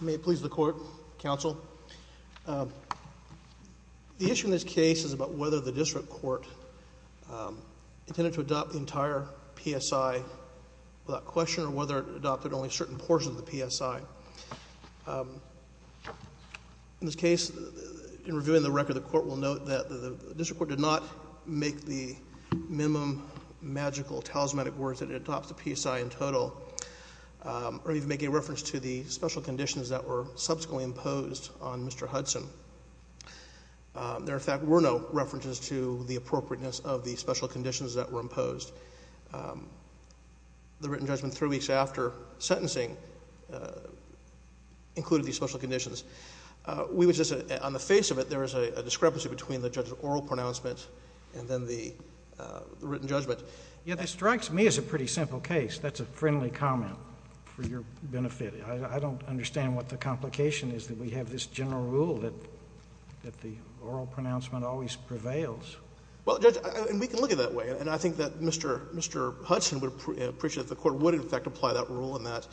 May it please the court, counsel. The issue in this case is about whether the district court intended to adopt the entire PSI without question or whether it adopted only a certain portion of the PSI. In this case, in reviewing the record, the court will note that the district court did not make the minimum magical talismanic words that it adopts the PSI in total or even make a reference to the special conditions that were subsequently imposed on Mr. Hudson. There, in fact, were no references to the appropriateness of the special conditions that were imposed. The written judgment three weeks after sentencing included these special conditions. On the face of it, there is a discrepancy between the judge's oral pronoun pronouncement and then the written judgment. JUSTICE SCALIA. Yeah, that strikes me as a pretty simple case. That's a friendly comment for your benefit. I don't understand what the complication is that we have this general rule that the oral pronouncement always prevails. MR. RUBENSTEIN. Well, Judge, and we can look at it that way. And I think that Mr. Hudson would appreciate if the court would, in fact, apply that rule in that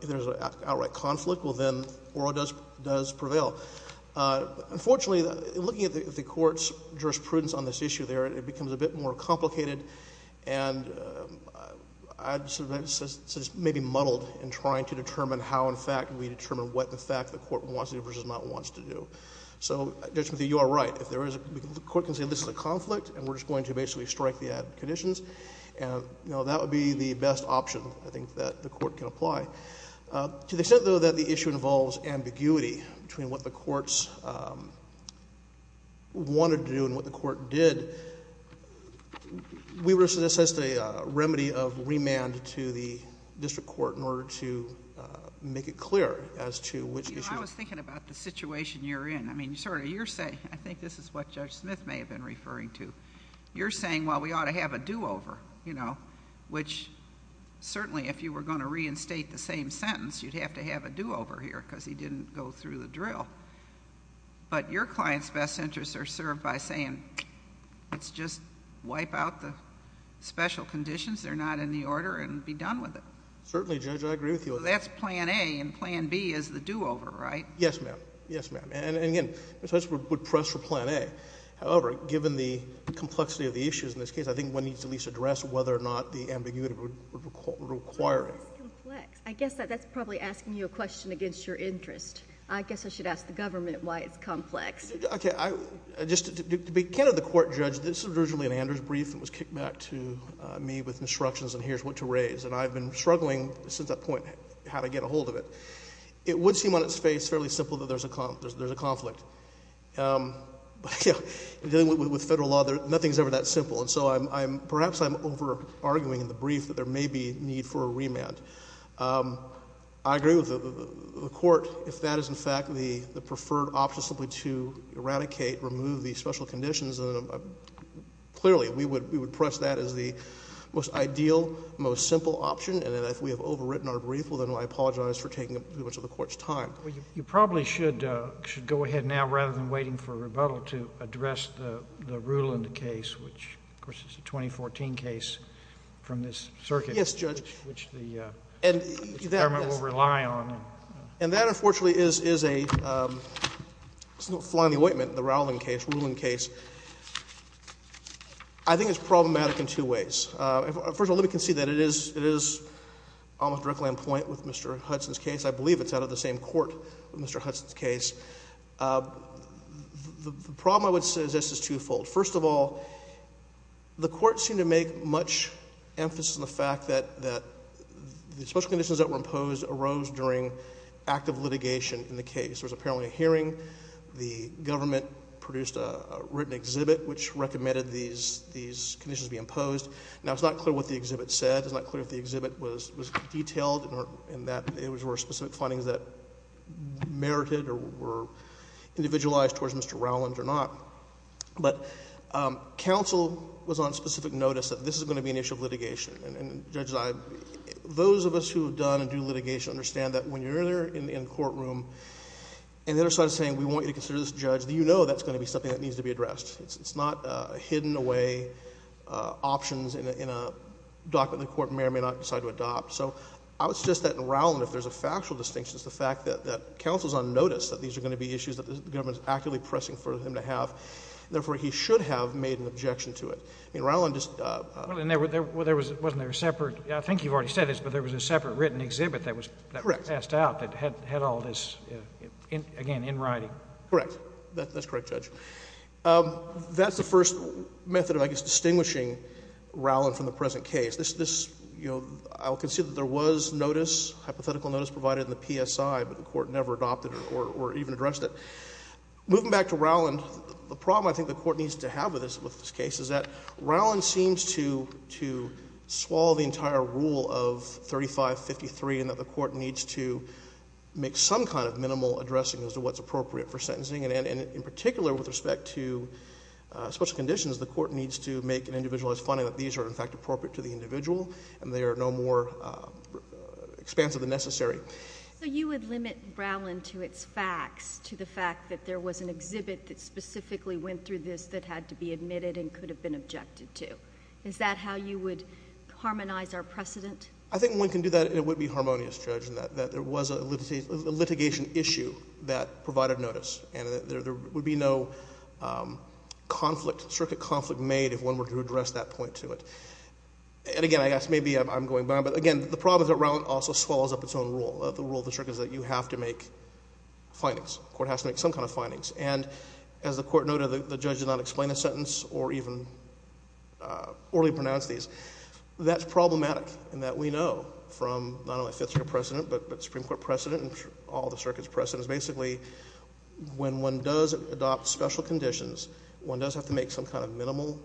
if there is an outright conflict, well, then oral does prevail. Unfortunately, looking at the Court's jurisprudence on this issue there, it becomes a bit more complicated. And I'd say it's maybe muddled in trying to determine how, in fact, we determine what, in fact, the Court wants to do versus not wants to do. So, Judge Smithy, you are right. If there is a — the Court can say this is a conflict and we're just going to basically strike the added conditions, and, you know, that would be the best option, I think, that the Court can apply. To the extent, though, that the issue involves ambiguity between what the courts wanted to do and what the Court did, we were — so this is a remedy of remand to the district court in order to make it clear as to which issue — JUSTICE POTTER. I was thinking about the situation you're in. I mean, sir, you're saying — I think this is what Judge Smith may have been referring to. You're saying, well, we ought to have a do-over, you know, which, certainly, if you were going to reinstate the same sentence, you'd have to have a do-over here because he didn't go through the drill. But your client's best interests are served by saying, let's just wipe out the special conditions. They're not in the order, and be done with it. JUDGE LEBEN. Certainly, Judge, I agree with you. JUSTICE POTTER. So that's Plan A, and Plan B is the do-over, right? JUDGE LEBEN. Yes, ma'am. Yes, ma'am. And, again, I would press for Plan A. However, given the complexity of the issues in this case, I think one needs to at least address whether or not the ambiguity would require it. JUSTICE GINSBURG. But why is this complex? I guess that's probably asking you a question against your interest. I guess I should ask the government why it's complex. JUDGE LEBEN. Okay. Just to be kind of the court judge, this was originally an Anders brief that was kicked back to me with instructions on here's what to raise. And I've been struggling since that point how to get a hold of it. It would seem on its face fairly simple that there's a conflict. But, you know, in dealing with Federal law, nothing's ever that simple. And so I'm — perhaps I'm over-arguing in the brief that there may be need for a remand. I agree with the Court if that is, in fact, the preferred option simply to eradicate, remove the special conditions. Clearly, we would press that as the most ideal, most simple option. And then if we have overwritten our brief, well, then I apologize for taking up too much of the Court's time. JUSTICE SCALIA. Well, you probably should go ahead now, rather than waiting for a rebuttal, to address the Ruland case, which, of course, is a 2014 case from this circuit. JUDGE LEBEN. Yes, Judge. JUSTICE SCALIA. Which the government will rely on. JUDGE LEBEN. And that, unfortunately, is a — it's not flying the ointment, the Rowland case, Ruland case. I think it's problematic in two ways. First of all, let me concede that it is almost directly on point with Mr. Hudson's case. I believe it's out of the same court with Mr. Hudson's case. The problem, I would suggest, is twofold. First of all, the Court seemed to make much emphasis on the fact that the special conditions that were imposed arose during active litigation in the case. There was apparently a hearing. The government produced a written exhibit which recommended these conditions be imposed. Now, it's not clear what the exhibit said. It's not clear if the exhibit was detailed and that it was for specific findings that merited or were individualized towards Mr. Rowland or not. But counsel was on specific notice that this is going to be an issue of litigation. And, Judge, those of us who have done and do litigation understand that when you're there in the courtroom and they're sort of saying, we want you to consider this judge, you know that's going to be something that needs to be addressed. It's not hidden away options in a document the court may or may not decide to adopt. So I would suggest that in Rowland, if there's a factual distinction, it's the fact that counsel is on notice that these are going to be issues that the government is actively pressing for him to have. Therefore, he should have made an objection to it. I mean, Rowland just — Well, and there was — wasn't there a separate — I think you've already said this, but there was a separate written exhibit that was passed out that had all this, again, in writing. Correct. That's correct, Judge. That's the first method of, I guess, distinguishing Rowland from the present case. This — you know, I'll consider that there was notice, hypothetical notice provided in the PSI, but the court never adopted it or even addressed it. Moving back to Rowland, the problem I think the court needs to have with this case is that Rowland seems to swallow the entire rule of 3553 in that the court needs to make some kind of minimal addressing as to what's appropriate for sentencing. And in particular, with respect to special conditions, the court needs to make an individualized finding that these are, in fact, appropriate to the individual and they are no more expansive than necessary. So you would limit Rowland to its facts, to the fact that there was an exhibit that specifically went through this that had to be admitted and could have been objected to. Is that how you would harmonize our precedent? I think one can do that and it would be harmonious, Judge, in that there was a litigation issue that provided notice and there would be no conflict, strict conflict made if one were to address that point to it. And again, I guess maybe I'm going back, but again, the problem is that Rowland also swallows up its own rule. The rule of the circuit is that you have to make findings. The court has to make some kind of findings. And as the court noted, the judge did not explain a sentence or even orally pronounce these. That's problematic in that we know from not only Fifth Circuit precedent, but Supreme Court precedent and all the circuit's precedents, basically when one does adopt special conditions, one does have to make some kind of minimal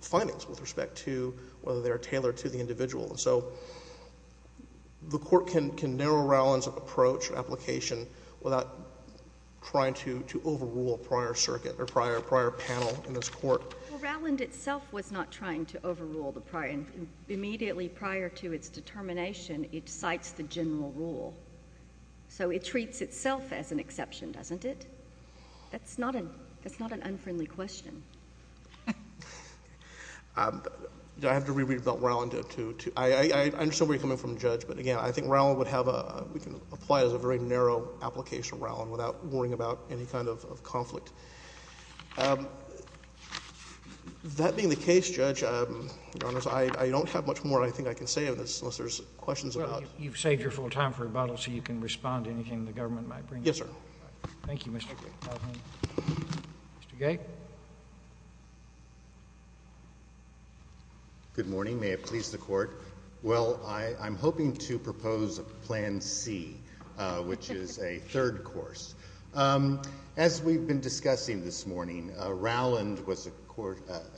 findings with respect to whether they are tailored to the individual. And so the court can narrow Rowland's approach or application without trying to overrule a prior circuit or prior panel in this court. Well, Rowland itself was not trying to overrule the prior. Immediately prior to its determination, it cites the general rule. So it treats itself as an exception, doesn't it? That's not an unfriendly question. Do I have to re-read about Rowland? I understand where you're coming from, Judge, but again, I think Rowland would have a, we can apply it as a very narrow application, Rowland, without worrying about any kind of conflict. That being the case, Judge, I don't have much more I think I can say on this, unless there's questions about it. You've saved your full time for rebuttal, so you can respond to anything the government might bring up. Yes, sir. Thank you, Mr. Gay. Mr. Gay? Good morning. May it please the Court? Well, I'm hoping to propose Plan C, which is a third course. As we've been discussing this morning, Rowland was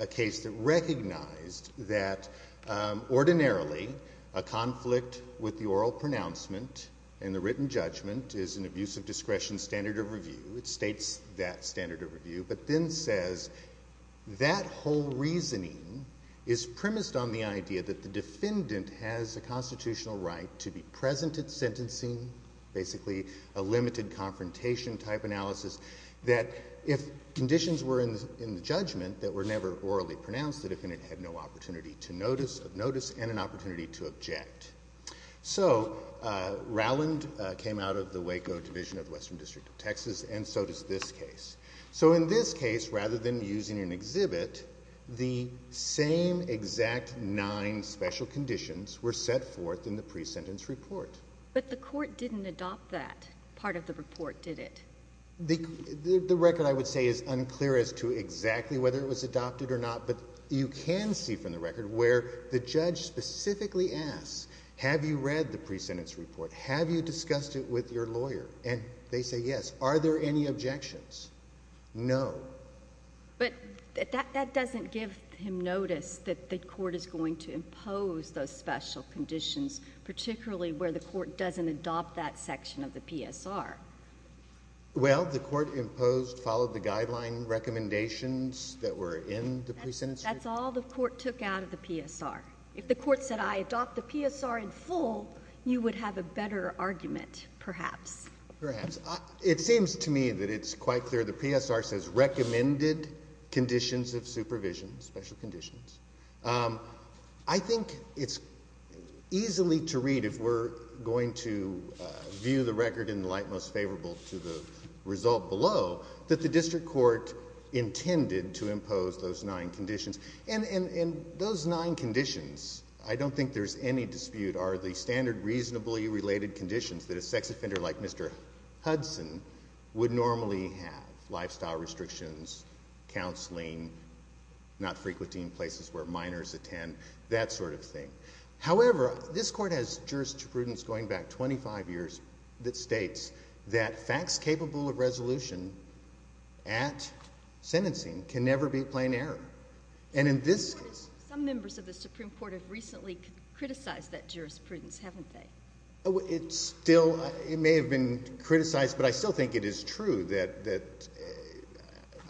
a case that recognized that ordinarily a conflict with the oral pronouncement and the written judgment is an abuse of discretion standard of review. It states that standard of review, but then says that whole reasoning is premised on the idea that the defendant has a constitutional right to be present at a confrontation type analysis, that if conditions were in the judgment that were never orally pronounced, the defendant had no opportunity to notice of notice and an opportunity to object. So Rowland came out of the Waco Division of the Western District of Texas, and so does this case. So in this case, rather than using an exhibit, the same exact nine special conditions were set forth in the pre-sentence report. But the Court didn't adopt that part of the report, did it? The record, I would say, is unclear as to exactly whether it was adopted or not, but you can see from the record where the judge specifically asks, have you read the pre-sentence report? Have you discussed it with your lawyer? And they say, yes. Are there any objections? No. But that doesn't give him notice that the Court is going to impose those special conditions, particularly where the Court doesn't adopt that section of the PSR. Well, the Court imposed, followed the guideline recommendations that were in the pre-sentence report. That's all the Court took out of the PSR. If the Court said, I adopt the PSR in full, you would have a better argument, perhaps. Perhaps. It seems to me that it's quite clear the PSR says, recommended conditions of supervision, special conditions. I think it's easily to read, if we're going to view the record in the light most favorable to the result below, that the District Court intended to impose those nine conditions. And those nine conditions, I don't think there's any dispute, are the standard reasonably related conditions that a sex offender like Mr. Hudson would normally have. Lifestyle restrictions, counseling, not frequenting places where minors attend, that sort of thing. However, this Court has jurisprudence going back 25 years that states that facts capable of resolution at sentencing can never be plain error. And in this case... Some members of the Supreme Court have recently criticized that jurisprudence, haven't they? It's still, it may have been criticized, but I still think it is true that,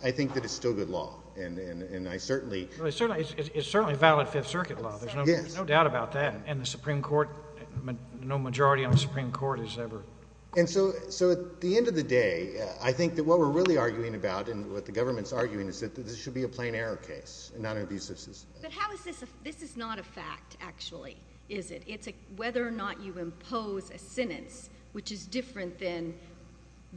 I think that it's still good law. And I certainly... It's certainly valid Fifth Circuit law. There's no doubt about that. And the Supreme Court, no majority on the Supreme Court has ever... And so, at the end of the day, I think that what we're really arguing about, and what the government's arguing, is that this should be a plain error case, a non-abusive system. But how is this... This is not a fact, actually, is it? It's whether or not you impose a sentence which is different than,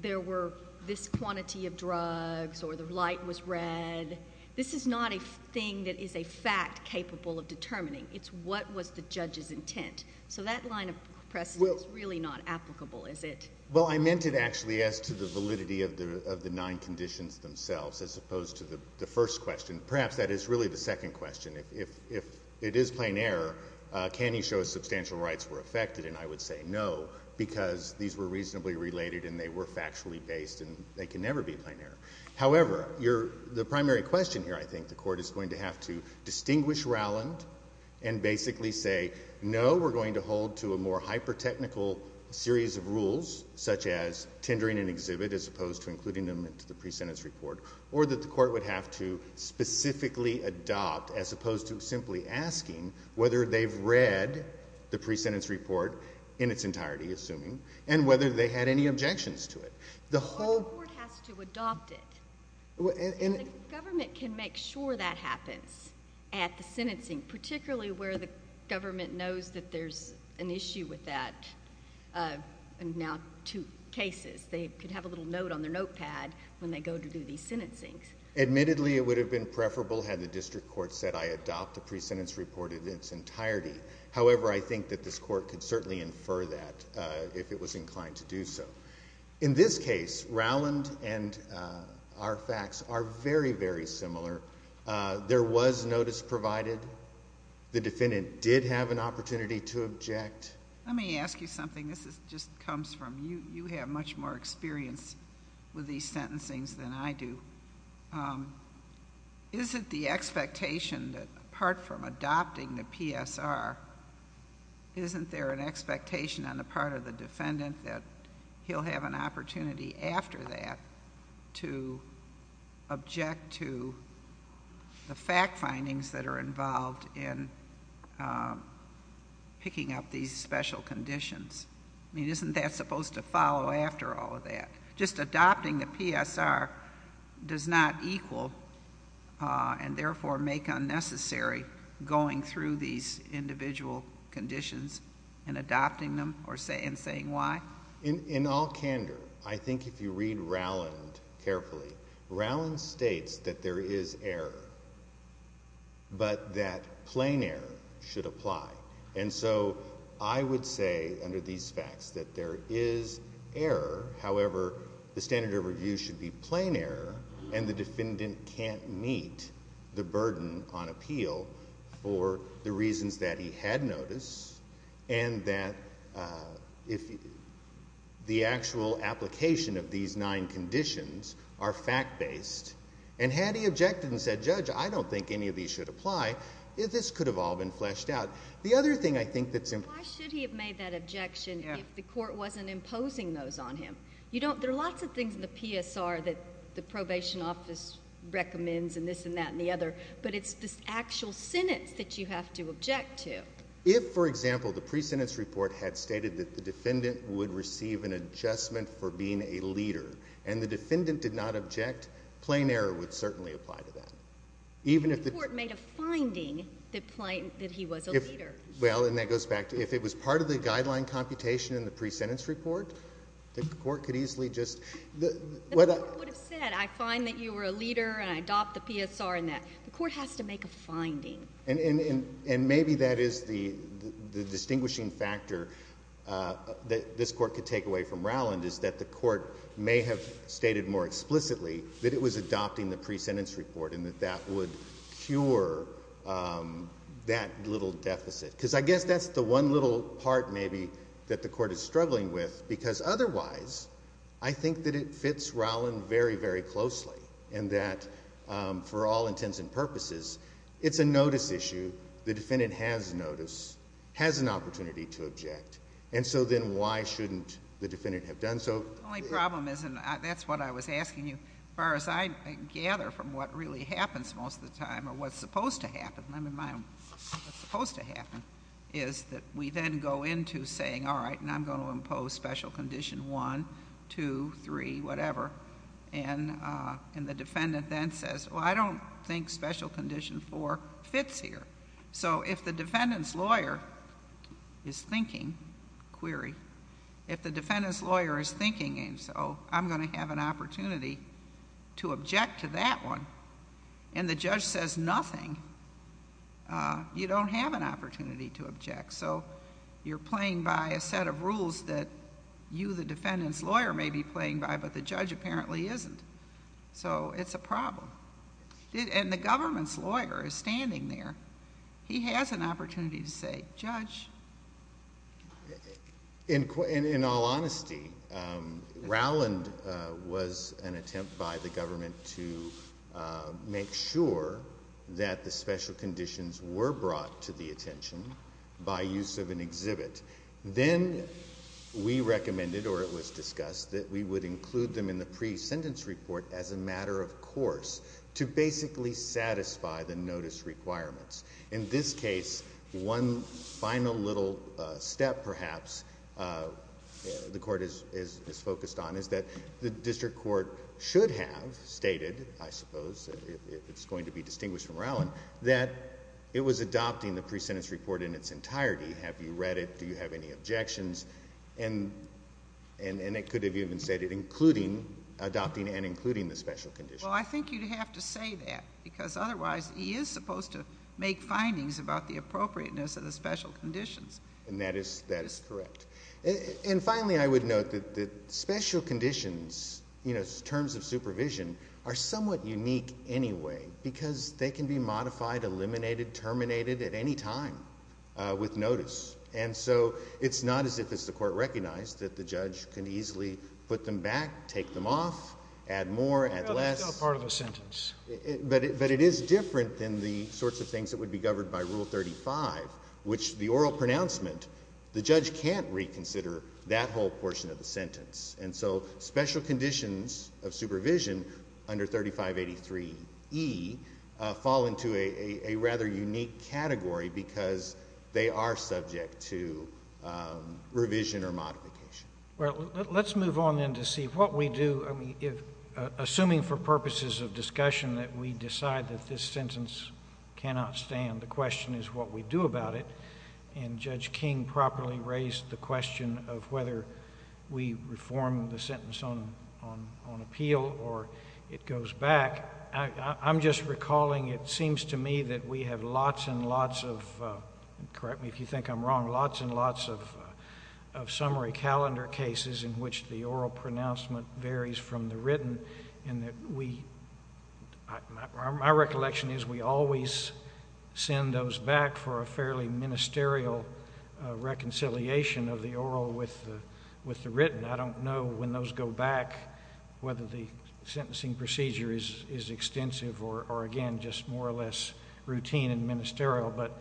there were this quantity of drugs, or the light was red. This is not a thing that is a fact capable of determining. It's what was the judge's intent. So that line of precedent is really not applicable, is it? Well, I meant it actually as to the validity of the nine conditions themselves, as opposed to the first question. Perhaps that is really the second question. If it is plain error, can you show substantial rights were affected? And I would say no, because these were reasonably related and they were factually based, and they can never be plain error. However, the primary question here, I think, the court is going to have to distinguish Rowland and basically say, no, we're going to hold to a more hyper-technical series of rules, such as tendering an exhibit, as opposed to including them into the pre-sentence report. Or that the court would have to specifically adopt, as opposed to simply asking whether they've read the pre-sentence report in its entirety, assuming, and whether they had any objections to it. The court has to adopt it. And the government can make sure that happens at the sentencing, particularly where the government knows that there's an issue with that. And now two cases, they could have a little note on their notepad when they go to do these sentencings. Admittedly, it would have been preferable had the district court said, I adopt the pre-sentence report in its entirety. However, I think that this court could certainly infer that if it was inclined to do so. In this case, Rowland and our facts are very, very similar. There was notice provided. The defendant did have an opportunity to object. Let me ask you something. This just comes from you. You have much more experience with these sentencings than I do. Is it the expectation that, apart from adopting the PSR, isn't there an expectation on the part of the defendant that he'll have an opportunity after that to object to the fact findings that are involved in picking up these sentences? I mean, isn't that supposed to follow after all of that? Just adopting the PSR does not equal and therefore make unnecessary going through these individual conditions and adopting them and saying why? In all candor, I think if you read Rowland carefully, Rowland states that there is error, but that plain error should apply. And so I would say under these facts that there is error. However, the standard of review should be plain error and the defendant can't meet the burden on appeal for the reasons that he had noticed and that if the actual application of these nine conditions are fact-based, and had he objected and said, Judge, I don't think any of these should apply, this could have all been fleshed out. The other thing I think that's important... Why should he have made that objection if the court wasn't imposing those on him? There are lots of things in the PSR that the probation office recommends and this and that and the other, but it's this actual sentence that you have to object to. If, for example, the pre-sentence report had stated that the defendant would receive an adjustment for being a leader and the defendant did not object, plain error would certainly apply to that. Even if the... The court made a finding that he was a leader. Well, and that goes back to if it was part of the guideline computation in the pre-sentence report, the court could easily just... The court would have said, I find that you were a leader and I adopt the PSR and that. The court has to make a finding. And maybe that is the distinguishing factor that this court could take away from Rowland is that the court may have stated more explicitly that it was adopting the pre-sentence report and that that would cure that little deficit. Because I guess that's the one little part, maybe, that the court is struggling with, because otherwise I think that it fits Rowland very, very closely and that for all intents and purposes, it's a notice issue. The defendant has notice, has an opportunity to object, and so then why shouldn't the defendant have done so? The only problem is, and that's what I was asking you, as far as I gather from what really happens most of the time or what's supposed to happen, let me remind them, what's supposed to happen, is that we then go into saying, all right, and I'm going to impose special condition one, two, three, whatever, and the defendant then says, well, I don't think special condition four fits here. So if the defendant's lawyer is thinking, query, if the defendant's lawyer is thinking, so I'm going to have an opportunity to object to that one, and the judge says nothing, you don't have an opportunity to object. So you're playing by a set of rules that you, the defendant's lawyer, may be playing by, but the judge apparently isn't. So it's a problem. And the government's lawyer is standing there. He has an opportunity to say, judge. In all honesty, Rowland was an attempt by the government to make sure that the special conditions were brought to the attention by use of an exhibit. Then we recommended, or it was discussed, that we would include them in the pre-sentence report as a matter of course, to basically satisfy the notice requirements. In this case, one final little step, perhaps, the court is focused on is that the district court should have stated, I suppose, if it's going to be distinguished from Rowland, that it was adopting the pre-sentence report in its entirety. Have you read it? Do you have any objections? And it could have even stated including, adopting and including the special conditions. Well, I think you'd have to say that, because otherwise he is supposed to make findings about the appropriateness of the special conditions. And that is correct. And finally, I would note that special conditions, you know, terms of supervision, are somewhat unique anyway, because they can be modified, eliminated, terminated at any time with notice. And so it's not as if it's the court recognized that the judge can easily put them back, take them off, add more, add less. That's still part of the sentence. But it is different than the sorts of things that would be governed by Rule 35, which the oral pronouncement, the judge can't reconsider that whole portion of the sentence. And so special conditions of supervision under 3583E fall into a rather unique category, because they are subject to revision or modification. Well, let's move on then to see what we do, I mean, assuming for purposes of discussion that we decide that this sentence cannot stand, the question is what we do about it. And Judge King properly raised the question of whether we reform the sentence on appeal or it goes back. I'm just recalling, it seems to me that we have lots and lots of, correct me if you think I'm wrong, lots and lots of summary calendar cases in which the oral pronouncement varies from the written, and that we, my recollection is we always send those back for a fairly ministerial reconciliation of the oral with the written. I don't know when those go back whether the sentencing procedure is extensive or again just more or less routine and ministerial, but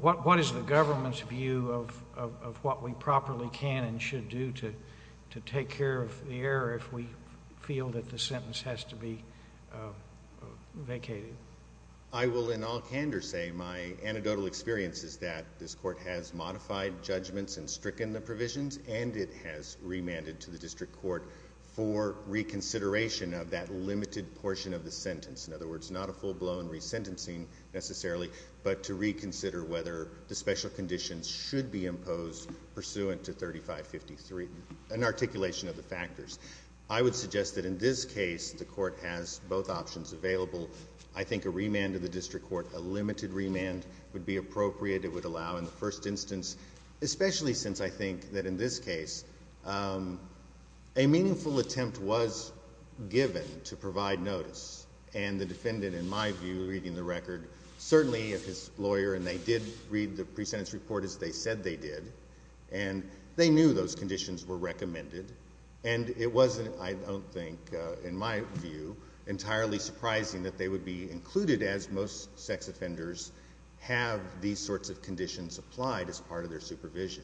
what is the government's view of what we properly can and should do to take care of the error if we feel that the sentence has to be vacated? I will in all candor say my anecdotal experience is that this court has modified judgments and stricken the provisions and it has remanded to the district court for reconsideration of that limited portion of the sentence, in other words, not a full-blown resentencing necessarily, but to reconsider whether the special conditions should be imposed pursuant to 3553, an articulation of the factors. I would suggest that in this case the court has both options available. I think a remand to the district court, a limited remand would be appropriate, it would I think that in this case a meaningful attempt was given to provide notice and the defendant in my view reading the record certainly if his lawyer and they did read the pre-sentence report as they said they did and they knew those conditions were recommended and it wasn't I don't think in my view entirely surprising that they would be included as most sex offenders have these sorts of conditions applied as part of their supervision.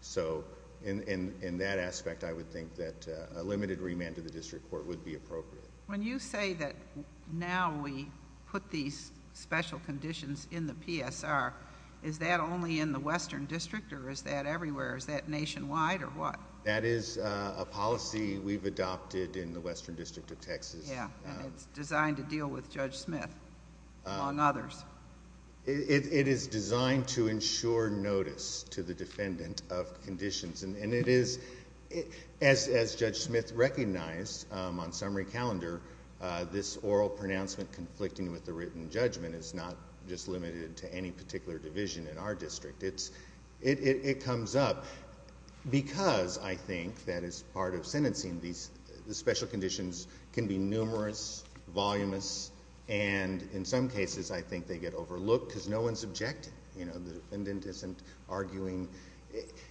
So in that aspect I would think that a limited remand to the district court would be appropriate. When you say that now we put these special conditions in the PSR, is that only in the Western District or is that everywhere? Is that nationwide or what? That is a policy we've adopted in the Western District of Texas. Yeah, and it's designed to deal with Judge Smith among others. It is designed to ensure notice to the defendant of conditions and it is as Judge Smith recognized on summary calendar this oral pronouncement conflicting with the written judgment is not just limited to any particular division in our district. It comes up because I think that as part of sentencing these special conditions can be numerous, volumous and in some cases I think they get overlooked because no one is objecting.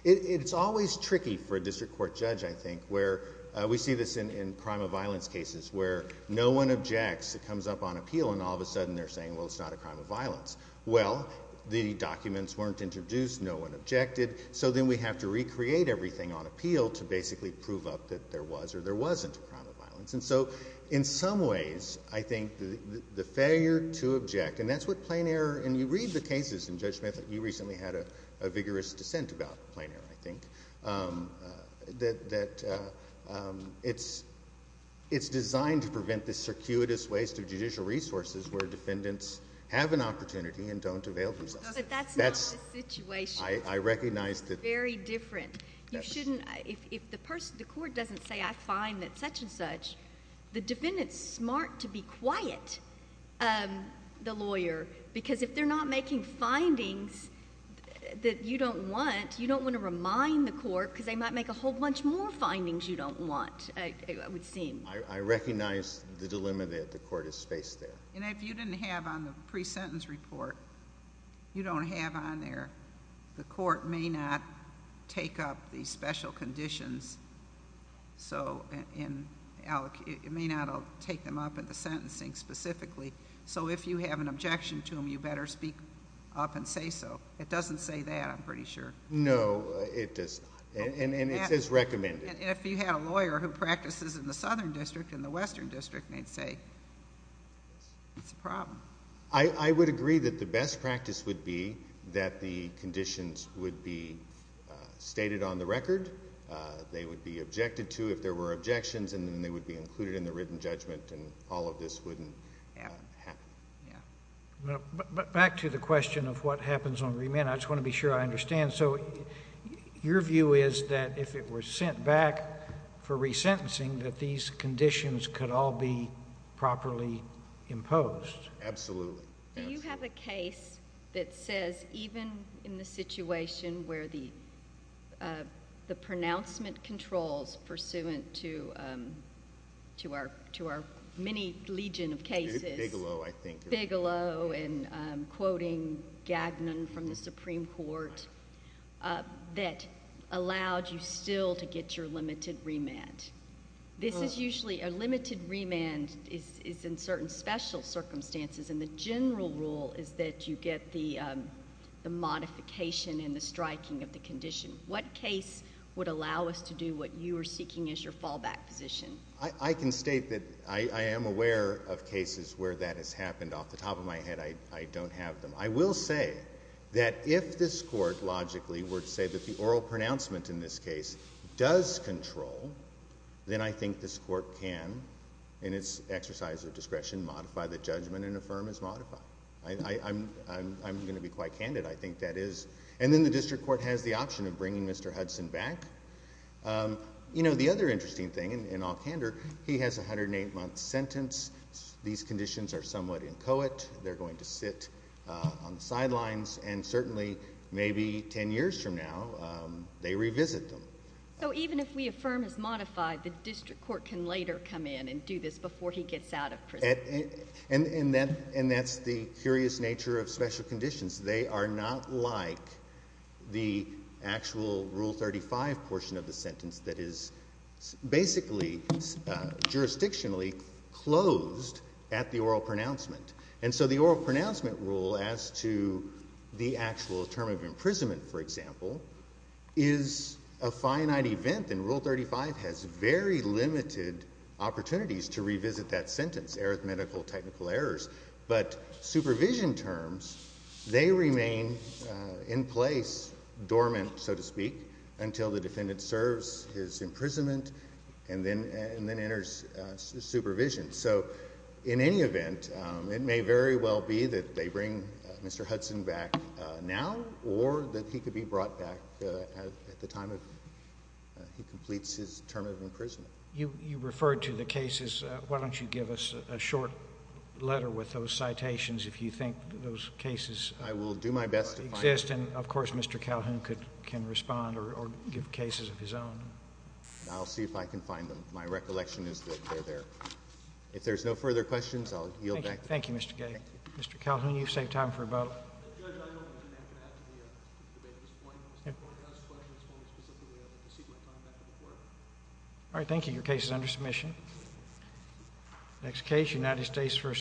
It's always tricky for a district court judge I think where we see this in crime of violence cases where no one objects, it comes up on appeal and all of a sudden they're saying well it's not a crime of violence. Well the documents weren't introduced, no one objected so then we have to recreate everything on appeal to basically prove up that there was or there wasn't a crime of violence. And so in some ways I think the failure to object and that's what plain error and you read the cases in Judge Smith, you recently had a vigorous dissent about plain error I think, that it's designed to prevent this circuitous waste of judicial resources where defendants have an opportunity and don't avail themselves. But that's not the situation. I recognize that. Very different. You shouldn't, if the court doesn't say I find that such and such, the defendant's smart to be quiet, the lawyer, because if they're not making findings that you don't want, you don't want to remind the court because they might make a whole bunch more findings you don't want, it would seem. I recognize the dilemma that the court has faced there. And if you didn't have on the pre-sentence report, you don't have on there, the court may not take up these special conditions. So it may not take them up at the sentencing specifically. So if you have an objection to them, you better speak up and say so. It doesn't say that, I'm pretty sure. No, it does not. And it says recommended. And if you had a lawyer who practices in the Southern District and the Western District, they'd say it's a problem. I would agree that the best practice would be that the conditions would be stated on the record, they would be objected to if there were objections, and then they would be included in the written judgment and all of this wouldn't happen. Back to the question of what happens on remand, I just want to be sure I understand. So your view is that if it were sent back for re-sentencing, that these conditions could all be properly imposed? Absolutely. Do you have a case that says, even in the situation where the pronouncement controls pursuant to our many legion of cases, Bigelow and quoting Gagnon from the Supreme Court, that allowed you still to get your limited remand? This is usually, a limited remand is in certain special circumstances, and the general rule is that you get the modification and the striking of the condition. What case would allow us to do what you are seeking as your fallback position? I can state that I am aware of cases where that has happened. Off the top of my head, I don't have them. I will say that if this court logically were to say that the oral pronouncement in this case does control, then I think this court can, in its exercise of discretion, modify the judgment and affirm as modified. I'm going to be quite candid. I think that is. And then the district court has the option of bringing Mr. Hudson back. You know, the other interesting thing, in all candor, he has a 108-month sentence. These conditions are somewhat inchoate. They're going to sit on the sidelines, and certainly, maybe 10 years from now, they revisit them. So even if we affirm as modified, the district court can later come in and do this before he gets out of prison? And that's the curious nature of special conditions. They are not like the actual Rule 35 portion of the sentence that is basically jurisdictionally closed at the oral pronouncement. And so the oral pronouncement rule as to the actual term of imprisonment, for example, is a finite event, and Rule 35 has very limited opportunities to revisit that sentence, arithmetical technical errors. But supervision terms, they remain in place, dormant, so to speak, until the defendant serves his imprisonment and then enters supervision. So in any event, it may very well be that they bring Mr. Hudson back now, or that he could be brought back at the time he completes his term of imprisonment. You referred to the cases. Why don't you give us a short letter with those citations, if you think those cases exist? I will do my best to find them. And of course, Mr. Calhoun can respond or give cases of his own. I'll see if I can find them. My recollection is that they're there. If there's no further questions, I'll yield back. Thank you, Mr. Gay. Mr. Calhoun, you've saved time for a vote. All right. Thank you. Your case is under submission. Next case, United States v.